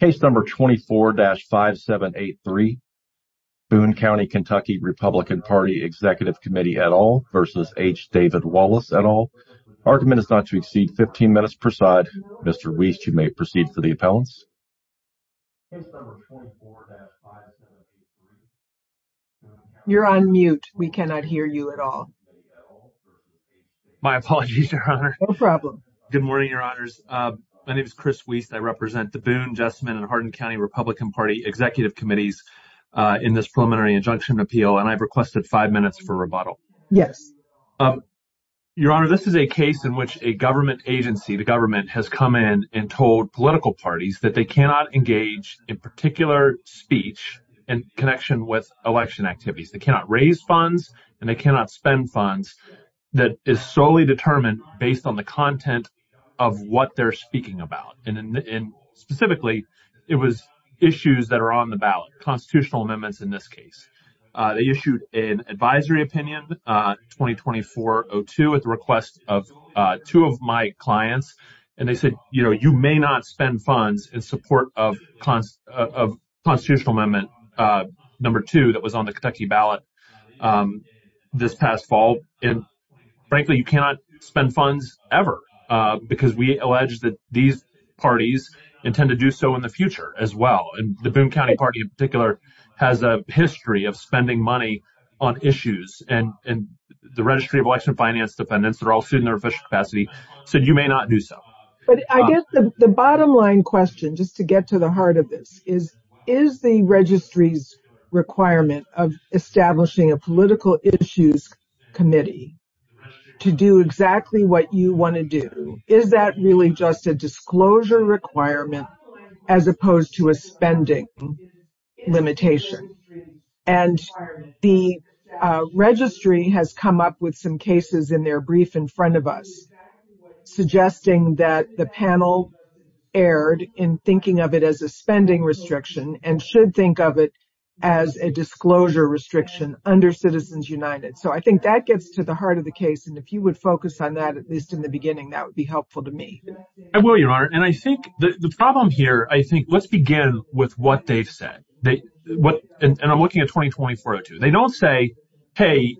Case number 24-5783, Boone County Kentucky Republican Party Executive Committee et al. v. H. David Wallace et al. Argument is not to exceed 15 minutes per side. Mr. Wiest, you may proceed for the appellants. You're on mute. We cannot hear you at all. My apologies, Your Honor. No problem. Good morning, Your Honors. My name is Chris Wiest. I represent the Boone, Jessamine, and Hardin County Republican Party Executive Committees in this preliminary injunction appeal, and I've requested five minutes for rebuttal. Yes. Your Honor, this is a case in which a government agency, the government, has come in and told political parties that they cannot engage in particular speech in connection with election activities. They cannot raise funds, and they cannot spend funds that is solely determined based on the content of what they're speaking about, and specifically, it was issues that are on the ballot, constitutional amendments in this case. They issued an advisory opinion, 2024-02, at the request of two of my clients, and they said, you know, you may not spend funds in support of constitutional amendment number two that was on the Kentucky ballot this past fall, and frankly, you cannot spend funds ever because we allege that these parties intend to do so in the future as well, and the Boone County Party in particular has a history of spending money on issues, and the Registry of Election Finance Dependents, they're all sued in their official capacity, said you may not do so. But I guess the bottom line question, just to get to the heart of this, is, is the Registry's requirement of establishing a political issues committee to do exactly what you want to do, is that really just a disclosure requirement as opposed to a spending limitation? And the Registry has come up with some cases in their brief in front of us suggesting that the panel erred in thinking of it as a spending restriction and should think of it as a disclosure restriction under Citizens United. So I think that gets to the heart of the case, and if you would focus on that, at least in the beginning, that would be helpful to me. I will, Your Honor, and I think the problem here, I think, let's begin with what they've said, and I'm looking at 2020-04-02. They don't say, hey,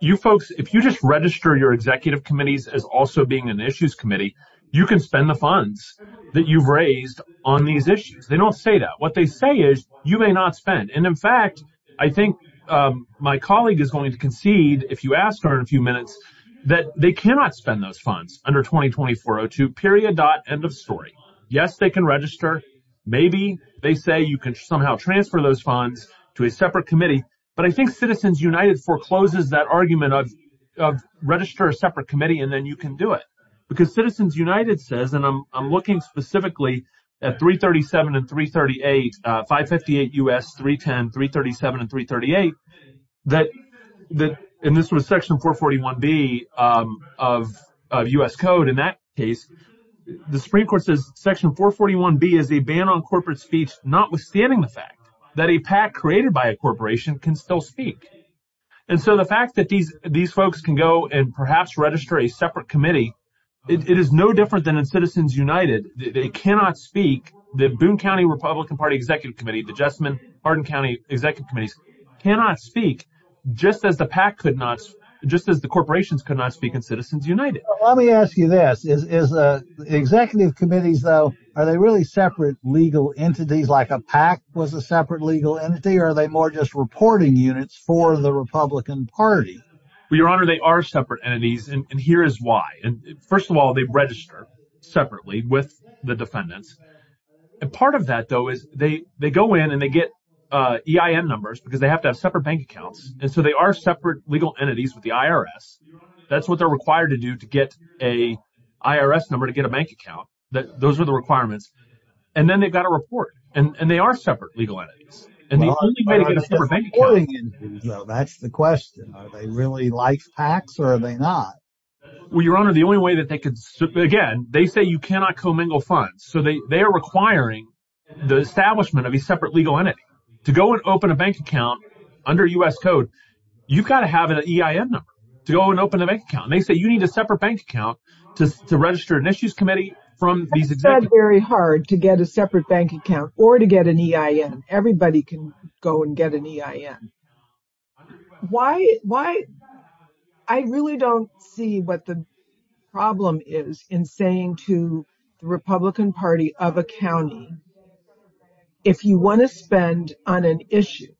you folks, if you just register your executive committees as also being an issues committee, you can spend the funds that you've raised on these issues. They don't say that. What they say is, you may not spend. And in fact, I think my colleague is going to concede, if you ask her in a few minutes, that they cannot spend those funds under 2020-04-02, period, dot, end of story. Yes, they can register. Maybe they say you can somehow transfer those funds to a separate committee. But I think Citizens United forecloses that argument of register a separate committee and then you can do it, because Citizens United says, and I'm looking specifically at 337 and 338, 558 U.S., 310, 337, and 338, that, and this was Section 441B of U.S. Code. In that case, the Supreme Court says Section 441B is a ban on corporate speech notwithstanding the fact that a PAC created by a corporation can still speak. And so the fact that these folks can go and perhaps register a separate committee, it is no different than in Citizens United. They cannot speak. The Boone County Republican Party Executive Committee, the Jessamine, Arden County Executive Committees, cannot speak, just as the PAC could not, just as the corporations could not speak in Citizens United. Let me ask you this. Is executive committees, though, are they really separate legal entities, like a PAC was a separate legal entity? Or are they more just reporting units for the Republican Party? Well, Your Honor, they are separate entities, and here is why. And first of all, they register separately with the defendants. And part of that, though, is they go in and they get EIN numbers because they have to have separate bank accounts. And so they are separate legal entities with the IRS. That's what they're required to do to get a IRS number to get a bank account. Those are the requirements. And then they've got to report. And they are separate legal entities. And that's the question. Are they really like PACs, or are they not? Well, Your Honor, the only way that they could, again, they say you cannot commingle funds. So they are requiring the establishment of a separate legal entity to go and open a bank account under U.S. code. You've got to have an EIN number to go and open a bank account. They say you need a separate bank account to register an issues committee from these executives. It's very hard to get a separate bank account or to get an EIN. Everybody can go and get an EIN. I really don't see what the problem is in saying to the Republican Party of a county, if you want to spend on an issue,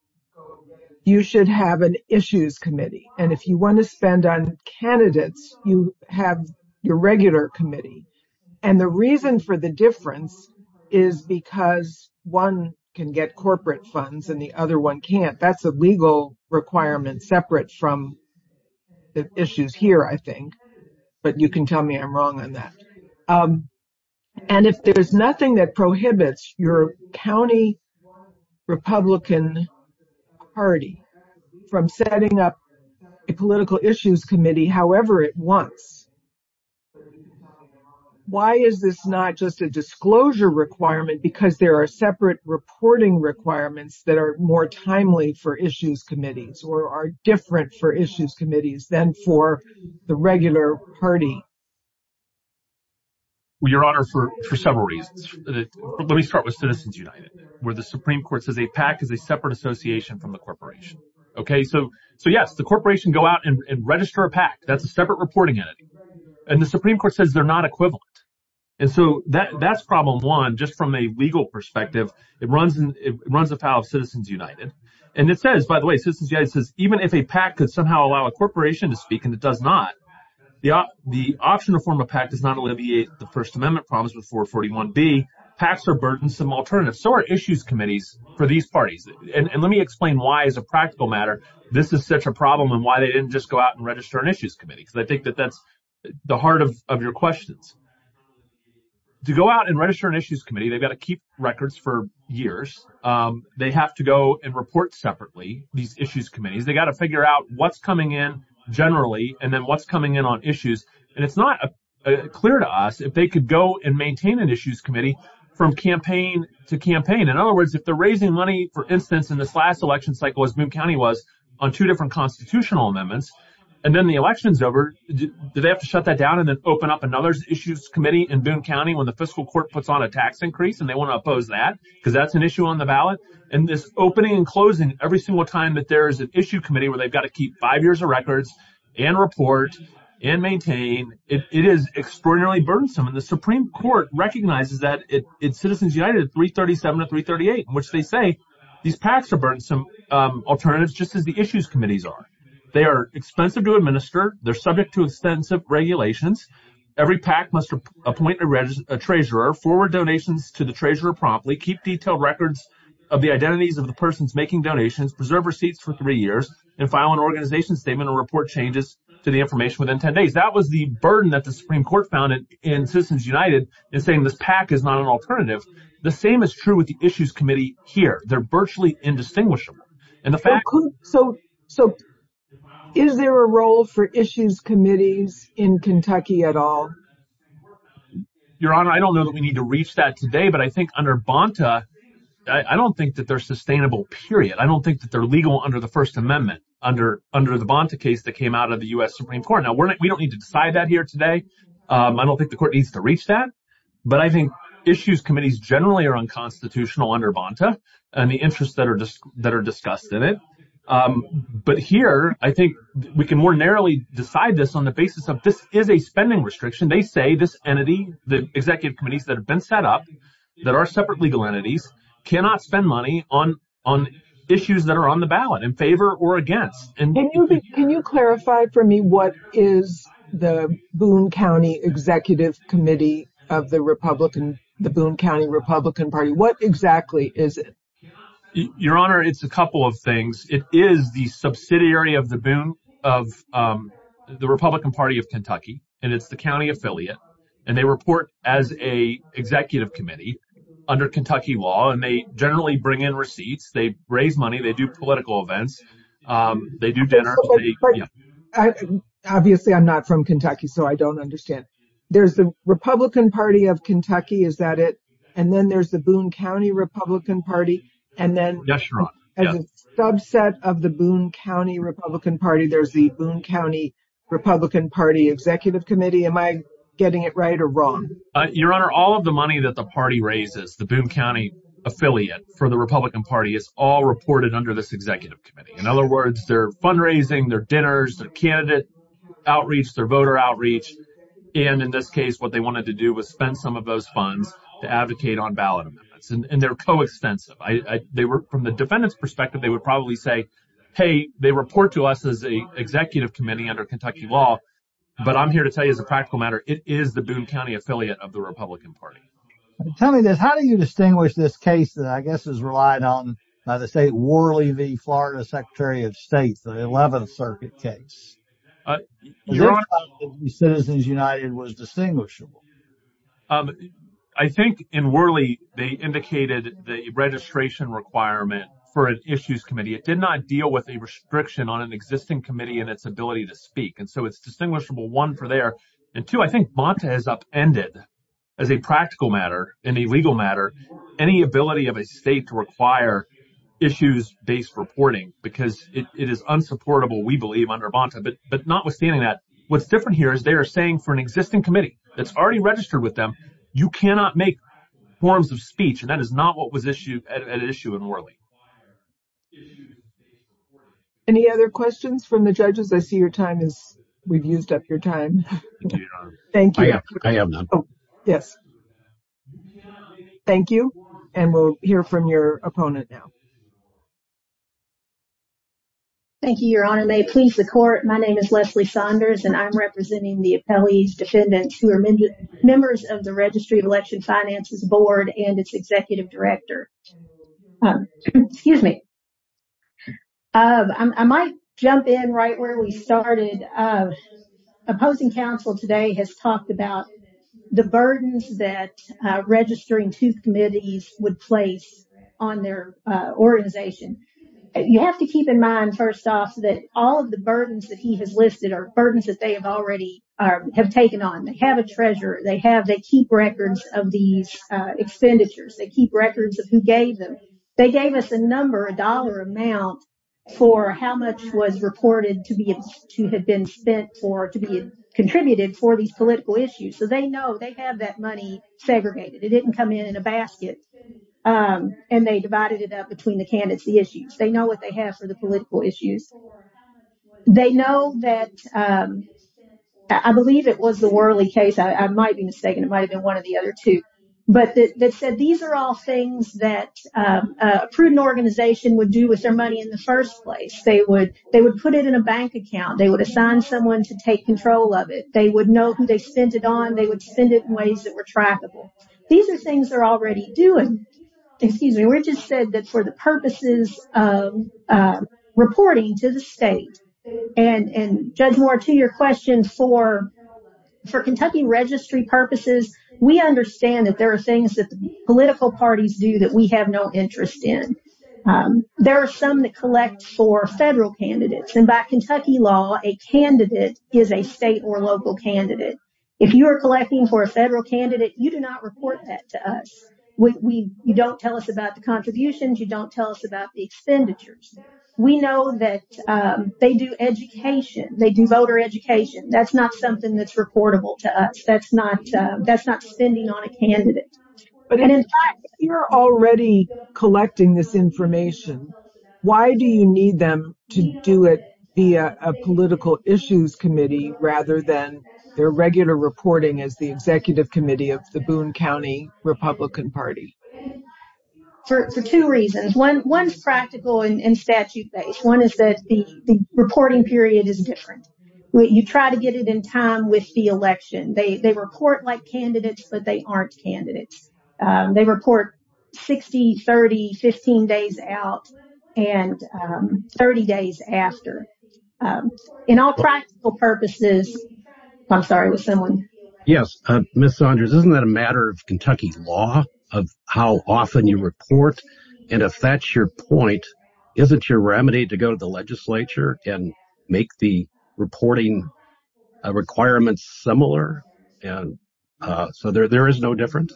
you should have an issues committee. And if you want to spend on candidates, you have your regular committee. And the reason for the difference is because one can get corporate funds and the other one can't. That's a legal requirement separate from the issues here, I think. But you can tell me I'm wrong on that. And if there's nothing that prohibits your county Republican Party from setting up a political issues committee however it wants, why is this not just a disclosure requirement? Because there are separate reporting requirements that are more timely for issues committees or are different for issues committees than for the regular party. Your Honor, for several reasons. Let me start with Citizens United, where the Supreme Court says a PAC is a separate association from the corporation. So yes, the corporation go out and register a PAC. That's a separate reporting entity. And the Supreme Court says they're not equivalent. And so that's problem one, just from a legal perspective. It runs afoul of Citizens United. And it says, by the way, Citizens United says even if a PAC could somehow allow a corporation to speak and it does not, the option to form a PAC does not alleviate the First Amendment problems with 441B. PACs are burdensome alternatives. So are issues committees for these parties. And let me explain why, as a practical matter, this is such a problem and why they didn't just go out and register an issues committee. Because I think that that's the heart of your questions. To go out and register an issues committee, they've got to keep records for years. They have to go and report separately, these issues committees. They've got to figure out what's coming in generally and then what's coming in on issues. And it's not clear to us if they could go and maintain an issues committee from campaign to campaign. In other words, if they're raising money, for instance, in this last election cycle as Boone County was on two different constitutional amendments, and then the election's over, do they have to shut that down and then open up another issues committee in Boone County when the fiscal court puts on a tax increase and they want to oppose that? Because that's an issue on the ballot. And this opening and closing every single time that there is an issue committee where they've got to keep five years of records and report and maintain, it is extraordinarily burdensome. The Supreme Court recognizes that it's Citizens United at 337 or 338, which they say these PACs are burdensome alternatives just as the issues committees are. They are expensive to administer. They're subject to extensive regulations. Every PAC must appoint a treasurer, forward donations to the treasurer promptly, keep detailed records of the identities of the persons making donations, preserve receipts for three years, and file an organization statement or report changes to the information within 10 days. That was the burden that the Supreme Court found in Citizens United in saying this PAC is not an alternative. The same is true with the issues committee here. They're virtually indistinguishable. So is there a role for issues committees in Kentucky at all? Your Honor, I don't know that we need to reach that today, but I think under Bonta, I don't think that they're sustainable, period. I don't think that they're legal under the First Amendment under the Bonta case that came out of the U.S. Supreme Court. We don't need to decide that here today. I don't think the court needs to reach that, but I think issues committees generally are unconstitutional under Bonta and the interests that are discussed in it. But here, I think we can more narrowly decide this on the basis of this is a spending restriction. They say this entity, the executive committees that have been set up, that are separate legal entities, cannot spend money on issues that are on the ballot, in favor or against. Can you clarify for me what is the Boone County Executive Committee of the Republican, the Boone County Republican Party? What exactly is it? Your Honor, it's a couple of things. It is the subsidiary of the Republican Party of Kentucky, and it's the county affiliate. And they report as an executive committee under Kentucky law, and they generally bring in receipts. They raise money. They do political events. They do dinner. Obviously, I'm not from Kentucky, so I don't understand. There's the Republican Party of Kentucky. Is that it? And then there's the Boone County Republican Party. And then there's a subset of the Boone County Republican Party. There's the Boone County Republican Party Executive Committee. Am I getting it right or wrong? Your Honor, all of the money that the party raises, the Boone County affiliate for the In other words, their fundraising, their dinners, their candidate outreach, their voter outreach. And in this case, what they wanted to do was spend some of those funds to advocate on ballot amendments. And they're coextensive. From the defendant's perspective, they would probably say, hey, they report to us as an executive committee under Kentucky law. But I'm here to tell you as a practical matter, it is the Boone County affiliate of the Republican Party. Tell me this. How do you distinguish this case that I guess is relied on by the state Worley v. Florida Secretary of State, the 11th Circuit case? Your Honor. Citizens United was distinguishable. I think in Worley, they indicated the registration requirement for an issues committee. It did not deal with a restriction on an existing committee and its ability to speak. And so it's distinguishable, one, for there. And two, I think Bonta has upended as a practical matter and a legal matter any ability of a state to require issues based reporting because it is unsupportable, we believe, under Bonta. But notwithstanding that, what's different here is they are saying for an existing committee that's already registered with them, you cannot make forms of speech. And that is not what was issued at issue in Worley. Any other questions from the judges? I see your time is we've used up your time. Thank you. I have none. Yes. Thank you. And we'll hear from your opponent now. Thank you, Your Honor. May it please the court. My name is Leslie Saunders, and I'm representing the appellee's defendants who are members of the Registry of Election Finances Board and its executive director. Excuse me. I might jump in right where we started. Opposing counsel today has talked about the burdens that registering two committees would place on their organization. You have to keep in mind, first off, that all of the burdens that he has listed are burdens that they have already have taken on. They have a treasurer. They keep records of these expenditures. They keep records of who gave them. They gave us a number, a dollar amount, for how much was reported to have been spent for to be contributed for these political issues. So they know they have that money segregated. It didn't come in in a basket. And they divided it up between the candidacy issues. They know what they have for the political issues. They know that I believe it was the Worley case. I might be mistaken. It might have been one of the other two. But they said these are all things that a prudent organization would do with their money in the first place. They would put it in a bank account. They would assign someone to take control of it. They would know who they spent it on. They would spend it in ways that were trackable. These are things they're already doing. Excuse me. We just said that for the purposes of reporting to the state. And Judge Moore, to your question, for Kentucky registry purposes, we understand that there are things that the political parties do that we have no interest in. There are some that collect for federal candidates. And by Kentucky law, a candidate is a state or local candidate. If you are collecting for a federal candidate, you do not report that to us. You don't tell us about the contributions. You don't tell us about the expenditures. We know that they do education. They do voter education. That's not something that's reportable to us. That's not that's not spending on a candidate. But if you're already collecting this information, why do you need them to do it via a political issues committee rather than their regular reporting as the executive committee of the Boone County Republican Party? For two reasons. One's practical and statute based. One is that the reporting period is different. You try to get it in time with the election. They report like candidates, but they aren't candidates. They report 60, 30, 15 days out and 30 days after. In all practical purposes, I'm sorry, was someone? Yes. Miss Saunders, isn't that a matter of Kentucky law of how often you report? And if that's your point, isn't your remedy to go to the legislature and make the reporting requirements similar? And so there is no difference.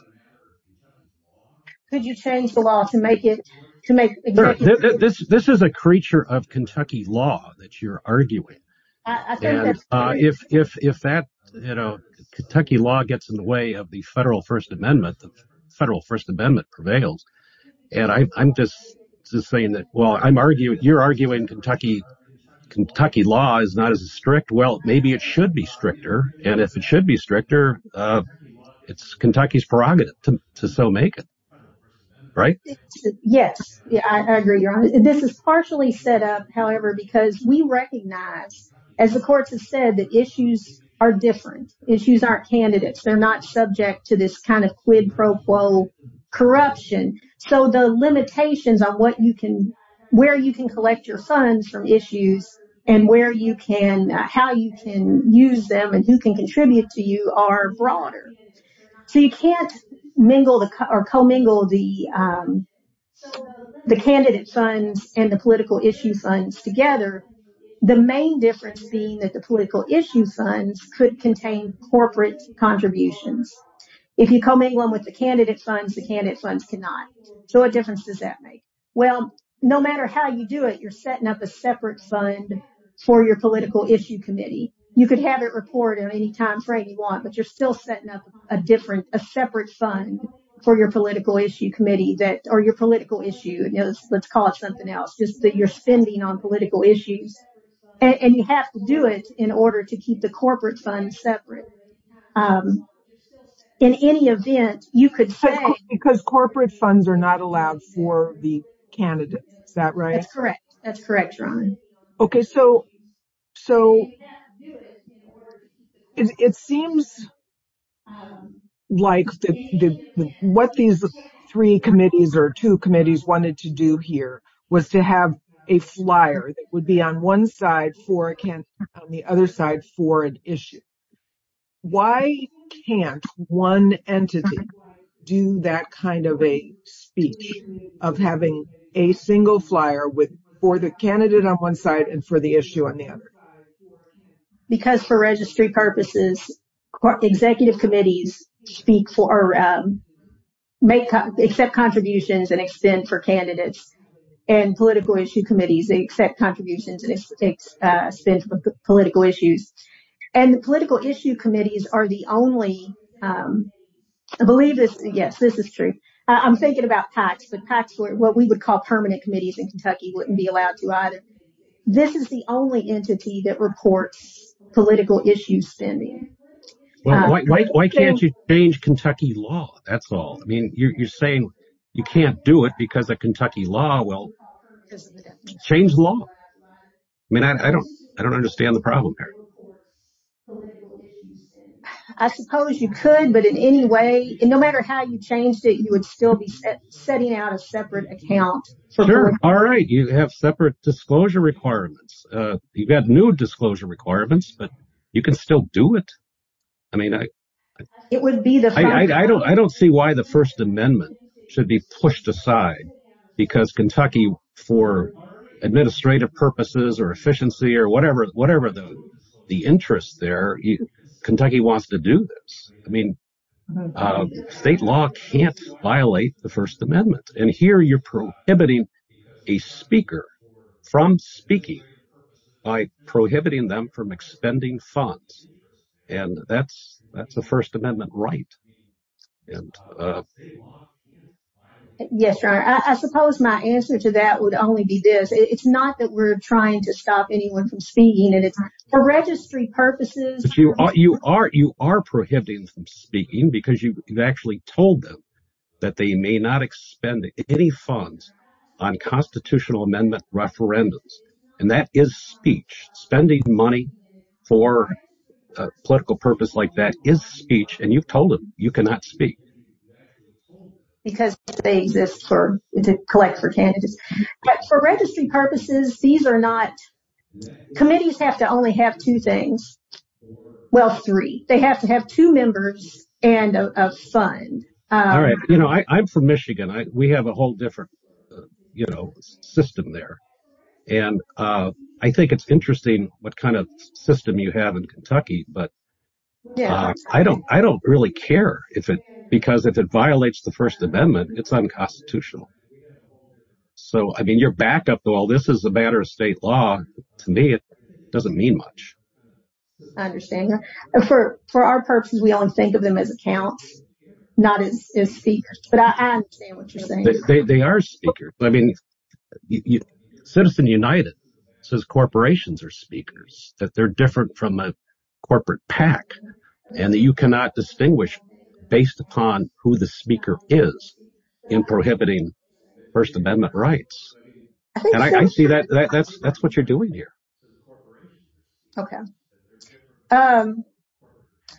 Could you change the law to make it to make this? This is a creature of Kentucky law that you're arguing. If that Kentucky law gets in the way of the federal First Amendment, the federal First Amendment, I'm just saying that while I'm arguing, you're arguing Kentucky, Kentucky law is not as strict. Well, maybe it should be stricter. And if it should be stricter, it's Kentucky's prerogative to so make it. Right? Yes, I agree. This is partially set up, however, because we recognize, as the courts have said, that issues are different. Issues aren't candidates. They're not subject to this kind of quid pro quo corruption. So the limitations on what you can where you can collect your funds from issues and where you can how you can use them and who can contribute to you are broader. So you can't mingle or commingle the the candidate funds and the political issue funds together. The main difference being that the political issue funds could contain corporate contributions. If you come in with the candidate funds, the candidate funds cannot. So what difference does that make? Well, no matter how you do it, you're setting up a separate fund for your political issue committee. You could have it report at any time frame you want, but you're still setting up a different a separate fund for your political issue committee that or your political issue. Let's call it something else, just that you're spending on political issues and you have to do it in order to keep the corporate funds separate. In any event, you could say because corporate funds are not allowed for the candidates. Is that right? That's correct. That's correct, Ron. OK, so so it seems like what these three committees or two committees wanted to do here was to have a flyer that would be on one side for a can on the other side for an issue. Why can't one entity do that kind of a speech of having a single flyer with for the candidate on one side and for the issue on the other? Because for registry purposes, executive committees speak for make accept contributions and extend for candidates and political issue committees. They accept contributions and spend for political issues. And the political issue committees are the only I believe this. Yes, this is true. I'm thinking about PACS, but PACS, what we would call permanent committees in Kentucky, wouldn't be allowed to either. This is the only entity that reports political issue spending. Why can't you change Kentucky law? That's all. I mean, you're saying you can't do it because of Kentucky law. Well, change the law. I mean, I don't I don't understand the problem here. I suppose you could. But in any way, no matter how you changed it, you would still be setting out a separate account. All right. You have separate disclosure requirements. You've got new disclosure requirements, but you can still do it. I mean, it would be the I don't I don't see why the First Amendment should be pushed aside because Kentucky for administrative purposes or efficiency or whatever, whatever the interest there, Kentucky wants to do this. I mean, state law can't violate the First Amendment. And here you're prohibiting a speaker from speaking by prohibiting them from expending funds. And that's that's the First Amendment right. And yes, I suppose my answer to that would only be this. It's not that we're trying to stop anyone from speaking. And it's for registry purposes. But you are you are you are prohibiting from speaking because you've actually told them that they may not expend any funds on constitutional amendment referendums. And that is speech spending money for a political purpose like that is speech. And you've told them you cannot speak. Because they exist for to collect for candidates. But for registry purposes, these are not committees have to only have two things. Well, three. They have to have two members and a fund. All right. You know, I'm from Michigan. We have a whole different, you know, system there. And I think it's interesting what kind of system you have in Kentucky. But I don't I don't really care if it because if it violates the First Amendment, it's unconstitutional. So, I mean, you're back up. Well, this is a matter of state law. To me, it doesn't mean much. I understand. For our purposes, we only think of them as accounts, not as speakers. But I understand what you're saying. They are speakers. I mean, Citizen United says corporations are speakers. That they're different from a corporate PAC and that you cannot distinguish based upon who the speaker is in prohibiting First Amendment rights. And I see that that's that's what you're doing here. OK.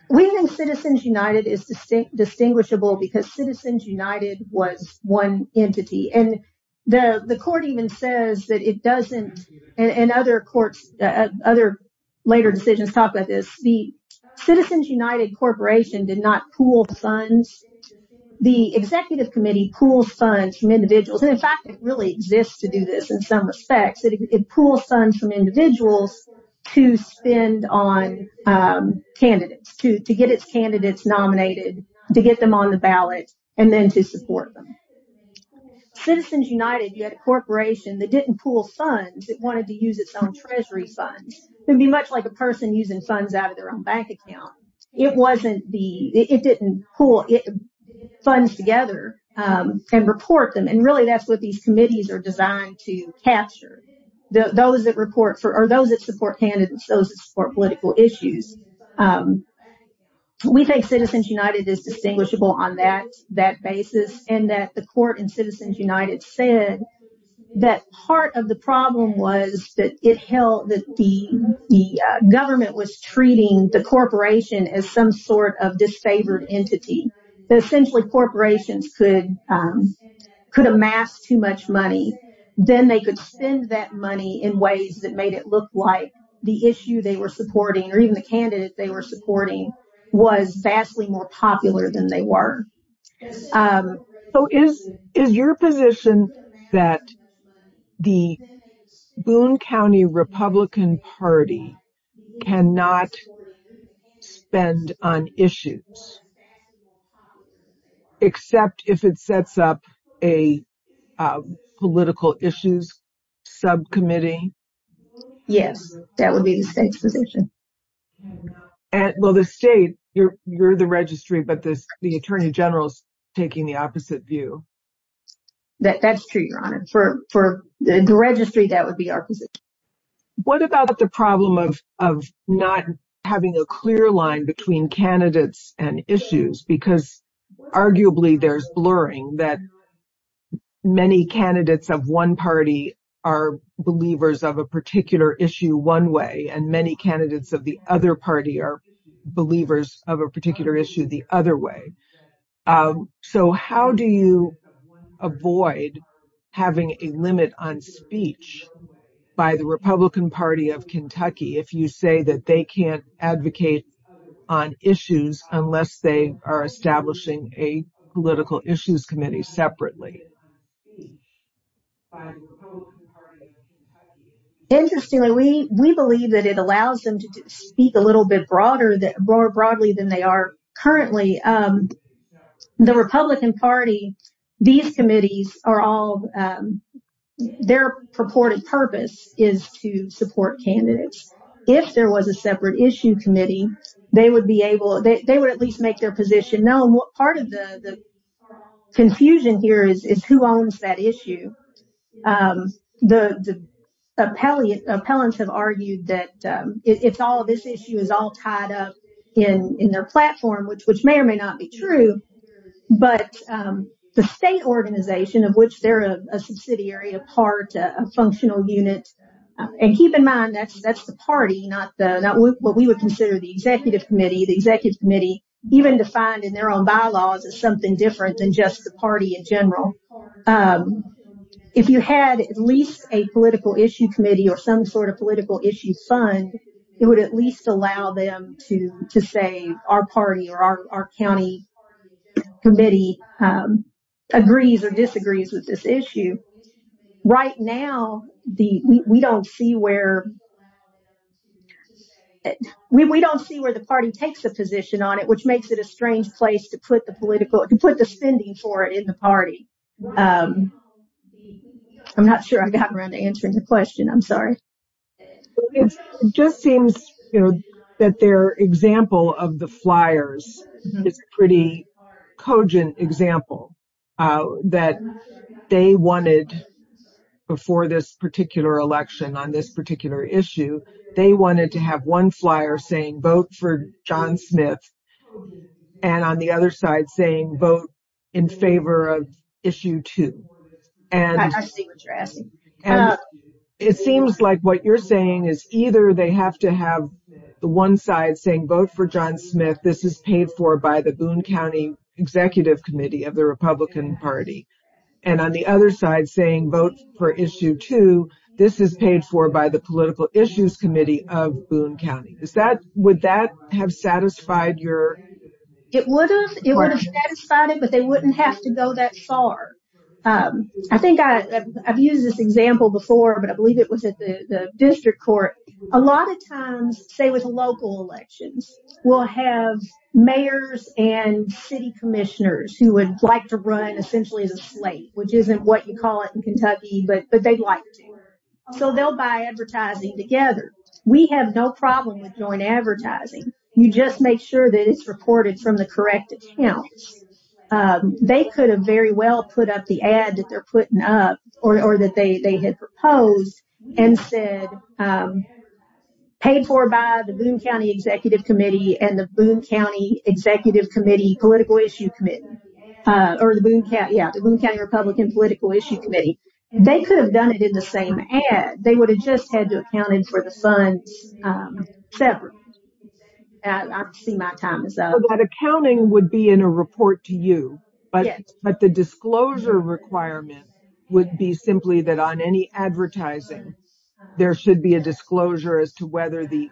We think Citizens United is distinct distinguishable because Citizens United was one entity. And the court even says that it doesn't and other courts, other later decisions talk about this. The Citizens United Corporation did not pool funds. The executive committee pools funds from individuals. And in fact, it really exists to do this in some respects. It pools funds from individuals to spend on candidates, to get its candidates nominated, to get them on the ballot and then to support them. Citizens United, you had a corporation that didn't pool funds. It wanted to use its own treasury funds. It would be much like a person using funds out of their own bank account. It wasn't the it didn't pool funds together and report them. And really, that's what these committees are designed to capture. Those that report for or those that support candidates, those that support political issues. We think Citizens United is distinguishable on that that basis and that the court and United said that part of the problem was that it held that the government was treating the corporation as some sort of disfavored entity. But essentially, corporations could could amass too much money. Then they could spend that money in ways that made it look like the issue they were supporting or even the candidate they were supporting was vastly more popular than they were. So, is your position that the Boone County Republican Party cannot spend on issues except if it sets up a political issues subcommittee? Yes, that would be the state's position. And well, the state, you're the registry, but this the attorney general's taking the opposite view. That's true, Your Honor. For the registry, that would be our position. What about the problem of not having a clear line between candidates and issues? Because arguably, there's blurring that many candidates of one party are believers of a issue one way and many candidates of the other party are believers of a particular issue the other way. So, how do you avoid having a limit on speech by the Republican Party of Kentucky if you say that they can't advocate on issues unless they are establishing a political issues committee separately? Interestingly, we believe that it allows them to speak a little bit broader than they are currently. The Republican Party, these committees are all, their purported purpose is to support candidates. If there was a separate issue committee, they would at least make their position known. Part of the confusion here is who owns that issue. The appellants have argued that this issue is all tied up in their platform, which may or may not be true, but the state organization of which they're a subsidiary, a part, a functional unit, and keep in mind, that's the party, not what we would consider the committee, the executive committee, even defined in their own bylaws as something different than just the party in general. If you had at least a political issue committee or some sort of political issue fund, it would at least allow them to say, our party or our county committee agrees or disagrees with this issue. Right now, we don't see where the party takes a position on it, which makes it a strange place to put the spending for it in the party. I'm not sure I got around to answering the question. I'm sorry. It just seems that their example of the flyers is a pretty cogent example that they wanted before this particular election on this particular issue. They wanted to have one flyer saying, vote for John Smith, and on the other side saying, vote in favor of issue two. It seems like what you're saying is either they have to have the one side saying, vote for John Smith, this is paid for by the Boone County Executive Committee of the Republican Party, and on the other side saying, vote for issue two, this is paid for by the Political Issues Committee of Boone County. Would that have satisfied your... It would have. It would have satisfied it, but they wouldn't have to go that far. I think I've used this example before, but I believe it was at the district court. A lot of times, say with local elections, we'll have mayors and city commissioners who like to run essentially as a slate, which isn't what you call it in Kentucky, but they'd like to. So they'll buy advertising together. We have no problem with joint advertising. You just make sure that it's reported from the correct accounts. They could have very well put up the ad that they're putting up or that they had proposed and said, paid for by the Boone County Executive Committee and the Boone County Executive Committee Political Issue Committee, or the Boone County Republican Political Issue Committee. They could have done it in the same ad. They would have just had to account for the funds separate. I see my time is up. That accounting would be in a report to you, but the disclosure requirement would be simply that on any advertising, there should be a disclosure as to whether the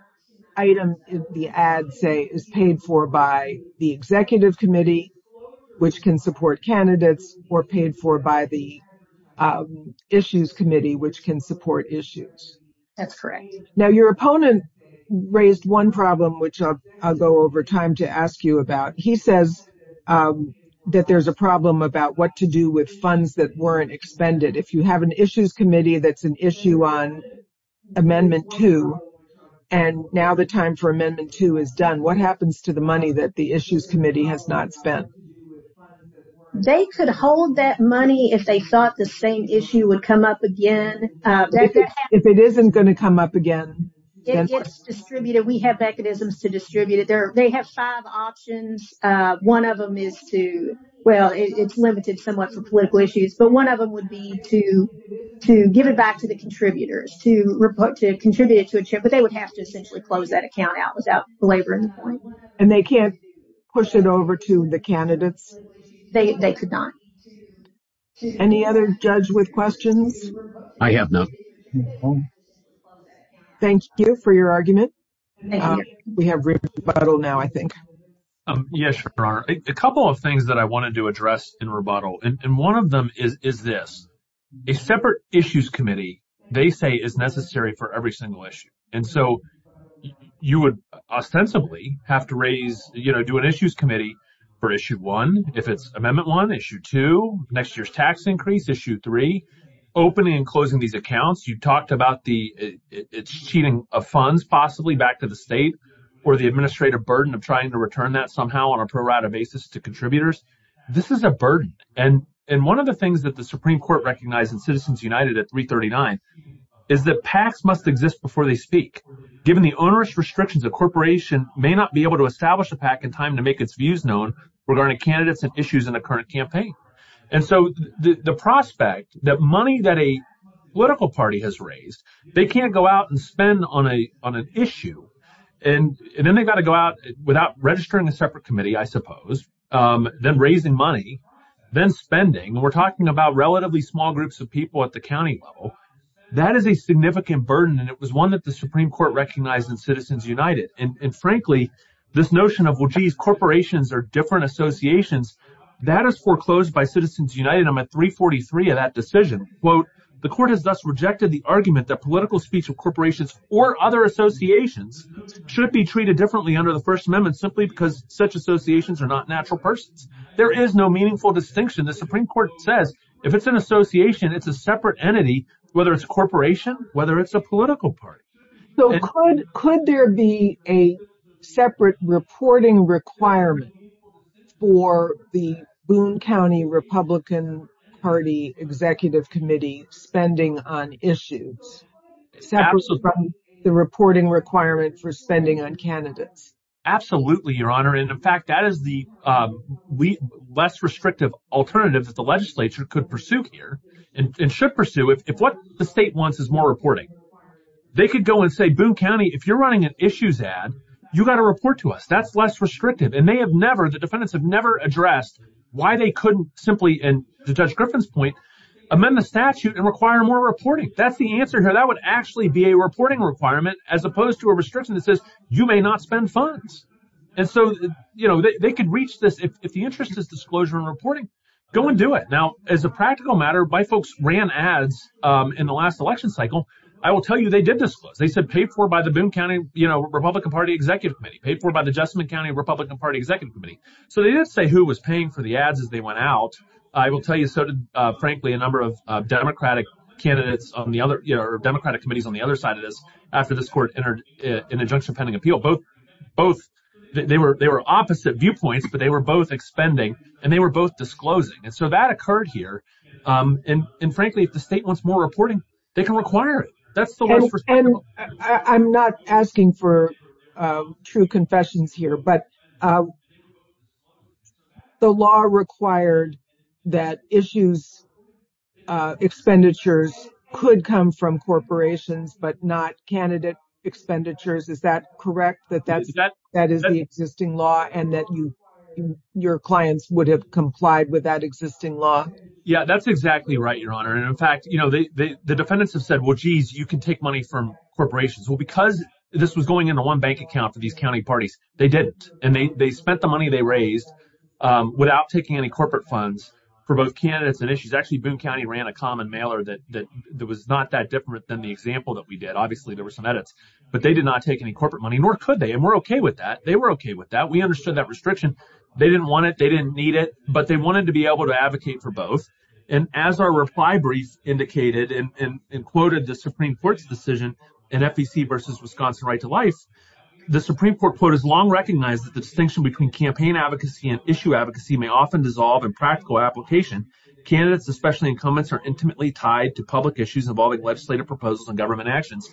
item, the ad, is paid for by the Executive Committee, which can support candidates, or paid for by the Issues Committee, which can support issues. That's correct. Now, your opponent raised one problem, which I'll go over time to ask you about. He says that there's a problem about what to do with funds that weren't expended. If you have an Issues Committee that's an issue on Amendment 2, and now the time for what happens to the money that the Issues Committee has not spent? They could hold that money if they thought the same issue would come up again. If it isn't going to come up again? It gets distributed. We have mechanisms to distribute it. They have five options. One of them is to, well, it's limited somewhat for political issues, but one of them would be to give it back to the contributors, to contribute it to a chair, but they would have essentially closed that account out without belaboring the point. They can't push it over to the candidates? They could not. Any other judge with questions? I have none. Thank you for your argument. We have rebuttal now, I think. Yes, Your Honor. A couple of things that I wanted to address in rebuttal, and one of them is this. A separate Issues Committee, they say, is necessary for every single issue. You would ostensibly have to raise, you know, do an Issues Committee for Issue 1, if it's Amendment 1, Issue 2, next year's tax increase, Issue 3, opening and closing these accounts. You talked about the cheating of funds, possibly, back to the state, or the administrative burden of trying to return that somehow on a pro rata basis to contributors. This is a burden, and one of the things that the Supreme Court recognized in Citizens United at 339 is that PACs must exist before they speak. Given the onerous restrictions, a corporation may not be able to establish a PAC in time to make its views known regarding candidates and issues in a current campaign. And so the prospect that money that a political party has raised, they can't go out and spend on an issue, and then they've got to go out without registering a separate committee, I suppose, then raising money, then spending. We're talking about relatively small groups of people at the county level. That is a significant burden, and it was one that the Supreme Court recognized in Citizens United. And frankly, this notion of, well, geez, corporations are different associations, that is foreclosed by Citizens United. I'm at 343 of that decision. The court has thus rejected the argument that political speech of corporations or other associations should be treated differently under the First Amendment simply because such associations are not natural persons. There is no meaningful distinction. The Supreme Court says if it's an association, it's a separate entity, whether it's a corporation, whether it's a political party. Could there be a separate reporting requirement for the Boone County Republican Party Executive Committee spending on issues separate from the reporting requirement for spending on candidates? Absolutely, Your Honor. In fact, that is the less restrictive alternative that the legislature could pursue here and should pursue. If what the state wants is more reporting, they could go and say, Boone County, if you're running an issues ad, you've got to report to us. That's less restrictive. And the defendants have never addressed why they couldn't simply, to Judge Griffin's point, amend the statute and require more reporting. That's the answer here. That would actually be a reporting requirement as opposed to a restriction that says you may not spend funds. And so they could reach this. If the interest is disclosure and reporting, go and do it. Now, as a practical matter, my folks ran ads in the last election cycle. I will tell you, they did disclose. They said paid for by the Boone County Republican Party Executive Committee, paid for by the Jessamine County Republican Party Executive Committee. So they didn't say who was paying for the ads as they went out. I will tell you, so did, frankly, a number of Democratic committees on the other side of this after this court entered an injunction pending appeal. Both, they were opposite viewpoints, but they were both expending and they were both disclosing. And so that occurred here. And frankly, if the state wants more reporting, they can require it. That's the least restrictive. And I'm not asking for true confessions here, but the law required that issues, expenditures could come from corporations, but not candidate expenditures. Is that correct, that that is the existing law and that your clients would have complied with that existing law? Yeah, that's exactly right, Your Honor. And in fact, the defendants have said, well, geez, you can take money from corporations. Well, because this was going into one bank account for these county parties, they didn't. And they spent the money they raised without taking any corporate funds for both candidates and issues. Actually, Boone County ran a common mailer that was not that different than the example that we did. Obviously, there were some edits, but they did not take any corporate money, nor could they. And we're OK with that. They were OK with that. We understood that restriction. They didn't want it. They didn't need it. But they wanted to be able to advocate for both. And as our reply brief indicated and quoted the Supreme Court's decision in FEC versus Wisconsin Right to Life, the Supreme Court, quote, has long recognized that the distinction between campaign advocacy and issue advocacy may often dissolve in practical application. Candidates, especially incumbents, are intimately tied to public issues involving legislative proposals and government actions.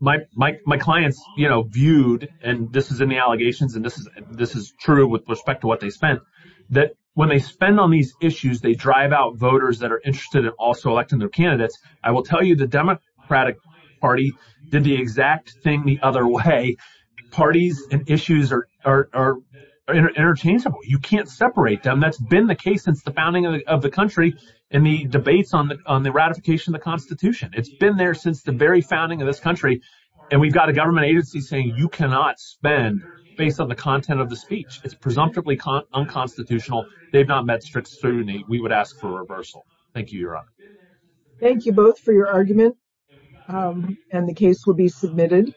My clients viewed, and this is in the allegations, and this is true with respect to what they spent, that when they spend on these issues, they drive out voters that are interested in also electing their candidates. I will tell you, the Democratic Party did the exact thing the other way. Parties and issues are interchangeable. You can't separate them. That's been the case since the founding of the country and the debates on the ratification of the Constitution. It's been there since the very founding of this country, and we've got a government agency saying you cannot spend based on the content of the speech. It's presumptively unconstitutional. They've not met strict scrutiny. We would ask for a reversal. Thank you, Your Honor. Thank you both for your argument, and the case will be submitted.